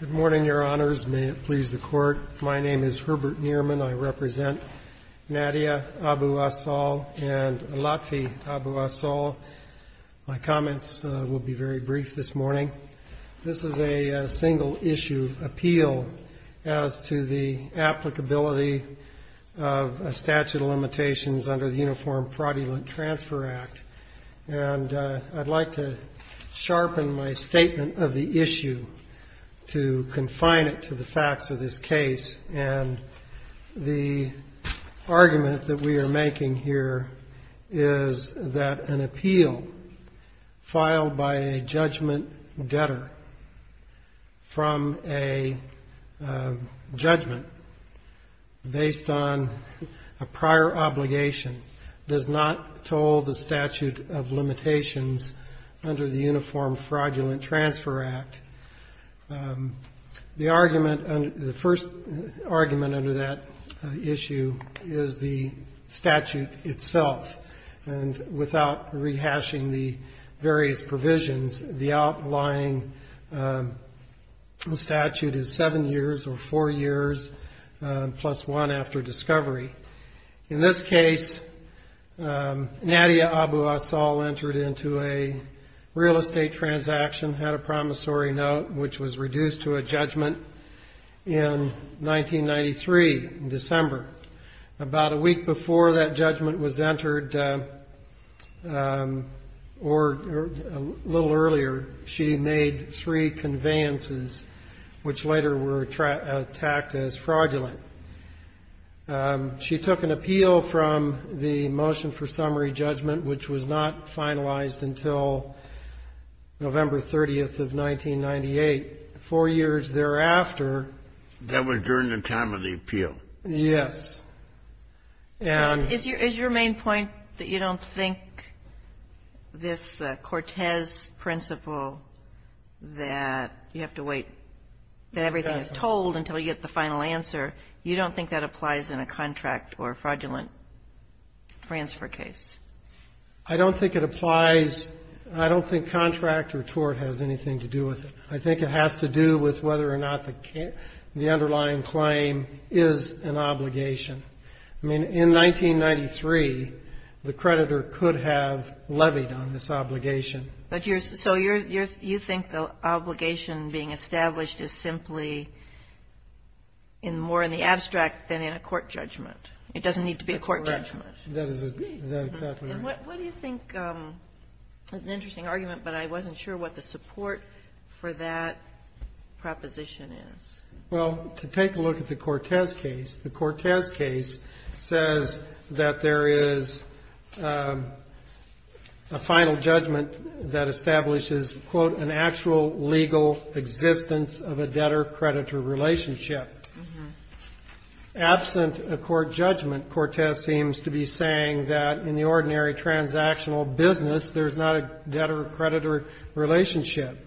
Good morning, Your Honors. May it please the Court, my name is Herbert Neerman. I represent Nadia Abu-Assal and Latfi Abu-Assal. My comments will be very brief this morning. This is a single-issue appeal as to the applicability of a statute of limitations under the Uniform Fraudulent Transfer Act. And I'd like to sharpen my statement of the issue to confine it to the facts of this case. And the argument that we are making here is that an appeal filed by a judgment debtor from a judgment based on a prior obligation does not toll the statute of limitations under the Uniform Fraudulent Transfer Act. The argument, the first argument under that issue is the statute itself. And without rehashing the various provisions, the outlying statute is 7 years or 4 years plus 1 after discovery. In this case, Nadia Abu-Assal entered into a real estate transaction, had a promissory note, which was reduced to a judgment in 1993, in December. About a week before that judgment was entered, or a little earlier, she made three conveyances, which later were attacked as fraudulent. She took an appeal from the motion for summary judgment, which was not finalized until November 30th of 1998. Four years thereafter That was during the time of the appeal. Yes. And Is your main point that you don't think this Cortez principle that you have to wait that everything is told until you get the final answer, you don't think that applies in a contract or fraudulent transfer case? I don't think it applies. I don't think contract or tort has anything to do with it. I think it has to do with whether or not the underlying claim is an obligation. I mean, in 1993, the creditor could have levied on this obligation. But you're so you're you think the obligation being established is simply in more in the need to be a court judgment. That is exactly right. What do you think, an interesting argument, but I wasn't sure what the support for that proposition is. Well, to take a look at the Cortez case, the Cortez case says that there is a final judgment that establishes, quote, an actual legal existence of a debtor-creditor relationship. Absent a court judgment, Cortez seems to be saying that in the ordinary transactional business, there's not a debtor-creditor relationship.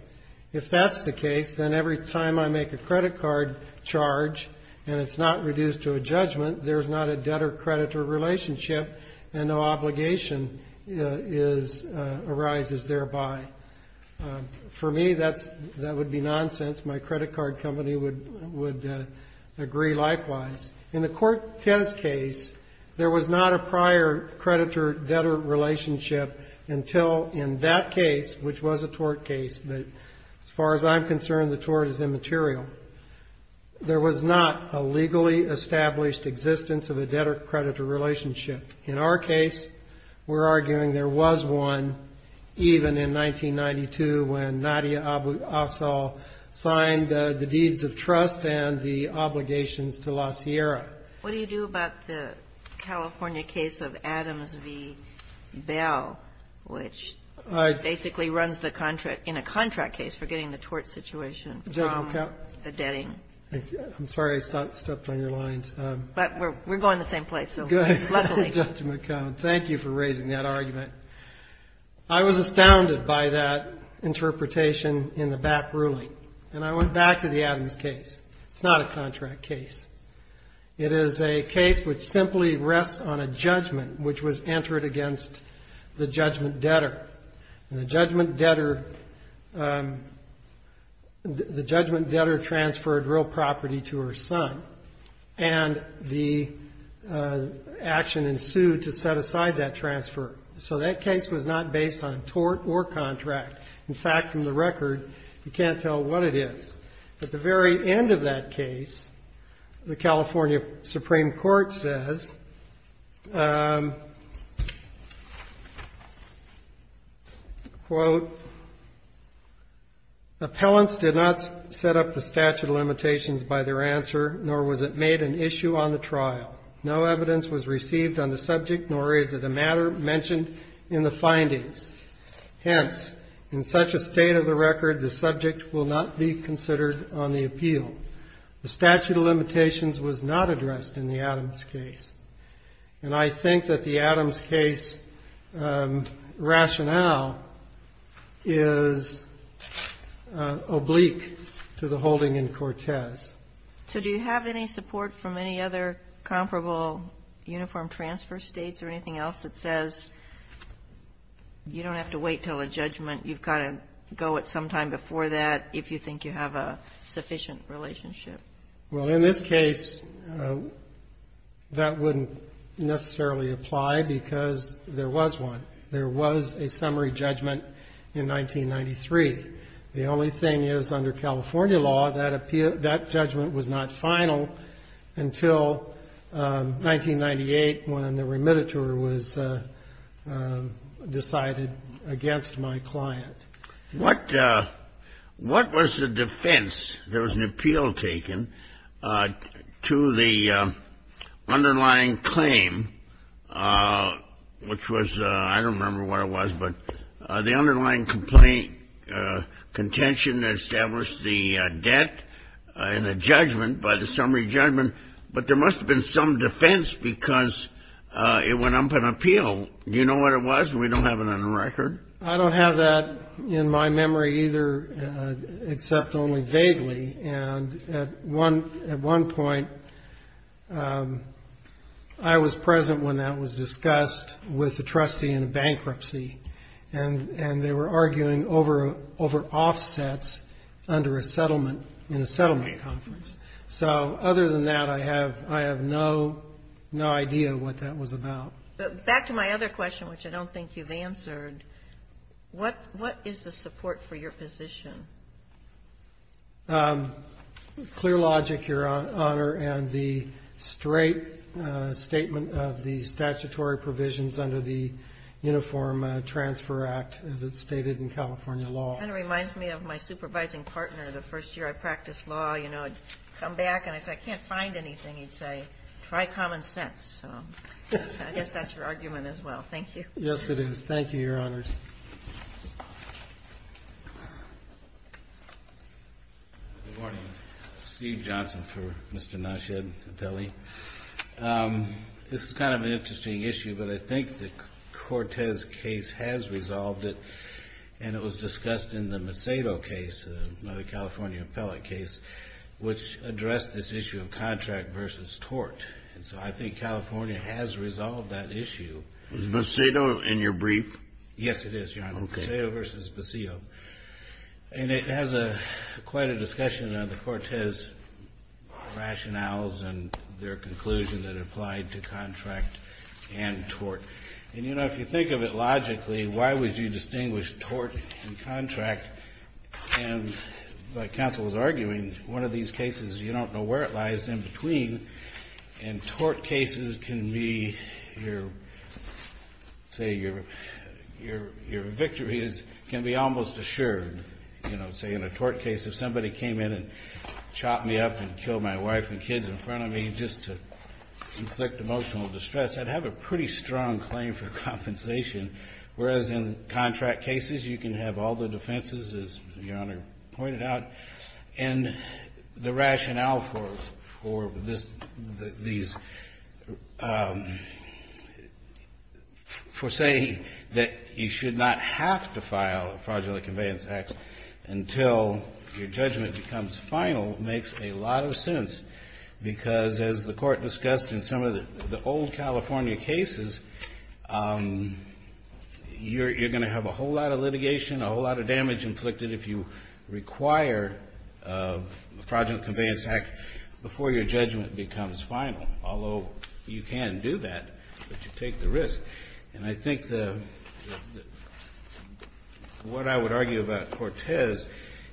If that's the case, then every time I make a credit card charge and it's not reduced to a judgment, there's not a debtor-creditor relationship and no obligation is arises thereby. For me, that's that would be nonsense. My credit card company would agree likewise. In the Cortez case, there was not a prior creditor-debtor relationship until in that case, which was a tort case, but as far as I'm concerned, the tort is immaterial. There was not a legally established existence of a debtor-creditor relationship. In our case, we're arguing there was one, even in 1992 when Nadia Assal signed the deeds of trust and the obligations to La Sierra. What do you do about the California case of Adams v. Bell, which basically runs the contract in a contract case for getting the tort situation from the debting? I'm sorry I stepped on your lines. But we're going the same place. Good, Judge McCone. Thank you for raising that argument. I was astounded by that interpretation in the back ruling, and I went back to the Adams case. It's not a contract case. It is a case which simply rests on a judgment, which was entered against the judgment debtor. And the judgment debtor transferred real property to her son, and the action ensued to set aside that transfer. So that case was not based on tort or contract. In fact, from the record, you can't tell what it is. At the very end of that case, the California Supreme Court says, quote, appellants did not set up the statute of limitations by their answer, nor was it made an issue on the trial. No evidence was received on the subject, nor is it a matter mentioned in the findings. Hence, in such a state of the record, the subject will not be considered on the appeal. The statute of limitations was not addressed in the Adams case. And I think that the Adams case rationale is oblique to the holding in Cortez. So do you have any support from any other comparable uniform transfer states or anything else that says you don't have to wait till a judgment? You've got to go at some time before that if you think you have a sufficient relationship. Well, in this case, that wouldn't necessarily apply because there was one. There was a summary judgment in 1993. The only thing is under California law, that judgment was not final until 1998 when the remittiture was decided against my client. What was the defense? There was an appeal taken to the underlying claim, which was, I don't remember what it was, but the underlying complaint contention that established the debt in a judgment by the summary judgment. But there must have been some defense because it went up an appeal. Do you know what it was? We don't have it on the record. I don't have that in my memory either, except only vaguely. And at one point, I was present when that was discussed with the trustee in a bankruptcy, and they were arguing over offsets under a settlement in a settlement conference. So other than that, I have no idea what that was about. But back to my other question, which I don't think you've answered, what is the support for your position? Clear logic, Your Honor, and the straight statement of the statutory provisions under the Uniform Transfer Act, as it's stated in California law. Kind of reminds me of my supervising partner. The first year I practiced law, you know, I'd come back and I'd say, I can't find anything. He'd say, try common sense. So I guess that's your argument as well. Thank you. Yes, it is. Thank you, Your Honors. Good morning. Steve Johnson for Mr. Nasheed, appellee. This is kind of an interesting issue, but I think the Cortez case has resolved it. And it was discussed in the Macedo case, the California appellate case, which addressed this issue of contract versus tort. And so I think California has resolved that issue. Is Macedo in your brief? Yes, it is, Your Honor. Macedo versus Paseo. And it has quite a discussion of the Cortez rationales and their conclusion that applied to contract and tort. And, you know, if you think of it logically, why would you distinguish tort and contract? And like counsel was arguing, one of these cases, you don't know where it lies in between. And tort cases can be your, say, your victories can be almost assured. You know, say in a tort case, if somebody came in and chopped me up and killed my wife and kids in front of me just to inflict emotional distress, I'd have a pretty strong claim for compensation. Whereas in contract cases, you can have all the defenses, as Your Honor pointed out. And the rationale for this, for saying that you should not have to file a fraudulent conveyance act until your judgment becomes final makes a lot of sense, because as the Court discussed in some of the old California cases, you're going to have a whole lot of litigation, a whole lot of damage inflicted if you require a fraudulent conveyance act before your judgment becomes final. Although you can do that, but you take the risk. And I think the, what I would argue about Cortez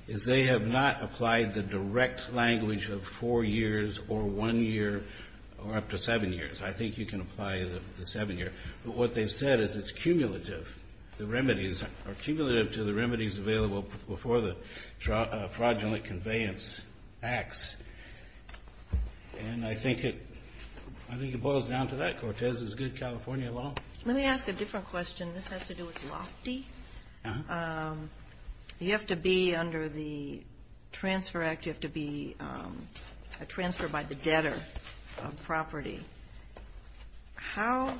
is they have not applied the direct language of four years or one year or up to seven years. I think you can apply the seven year. But what they've said is it's cumulative. The remedies are cumulative to the remedies available before the fraudulent conveyance acts. And I think it boils down to that. Cortez is good California law. Let me ask a different question. This has to do with Lofty. You have to be under the Transfer Act, you have to be a transfer by the debtor of property. How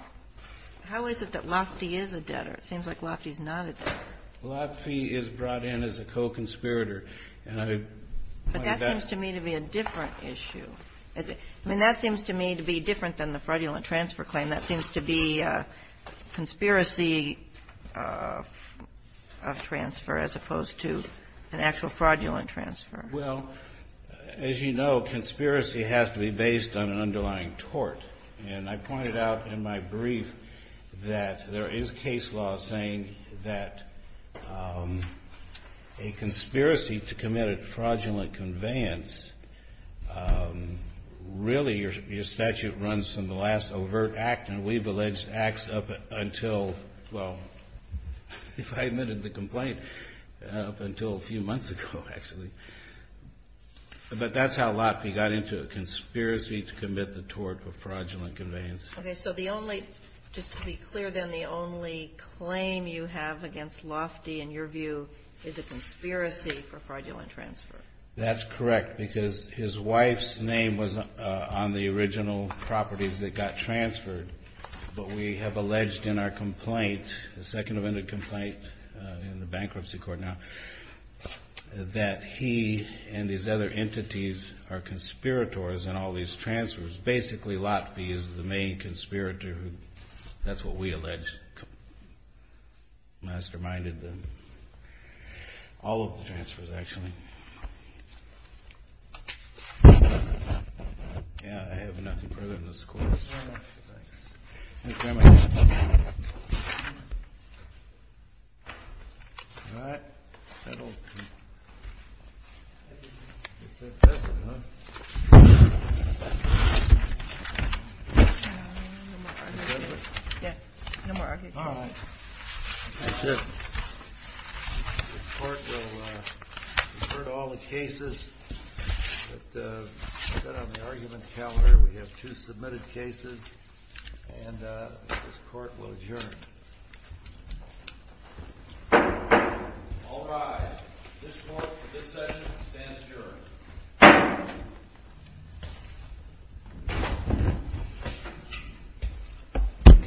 is it that Lofty is a debtor? It seems like Lofty is not a debtor. Lofty is brought in as a co-conspirator. But that seems to me to be a different issue. I mean, that seems to me to be different than the fraudulent transfer claim. That seems to be a conspiracy of transfer as opposed to an actual fraudulent transfer. Well, as you know, conspiracy has to be based on an underlying tort. And I pointed out in my brief that there is case law saying that a conspiracy to commit a fraudulent conveyance, really your statute runs from the last overt act, and we've alleged acts up until, well, if I admitted the complaint, up until a few months ago, actually. But that's how Lofty got into a conspiracy to commit the tort of fraudulent conveyance. Okay, so the only, just to be clear then, the only claim you have against Lofty, in your view, is a conspiracy for fraudulent transfer. That's correct, because his wife's name was on the original properties that got transferred. But we have alleged in our complaint, the second amended complaint in the bankruptcy court now, that he and these other entities are conspirators in all these transfers. Basically, Lofty is the main conspirator. That's what we allege. Masterminded all of the transfers, actually. Yeah, I have nothing further in this course. Thank you very much. All right. All right. The court will revert all the cases, but instead of the argument calendar, we have two submitted cases. And this court will adjourn. All rise. This court for this session stands adjourned.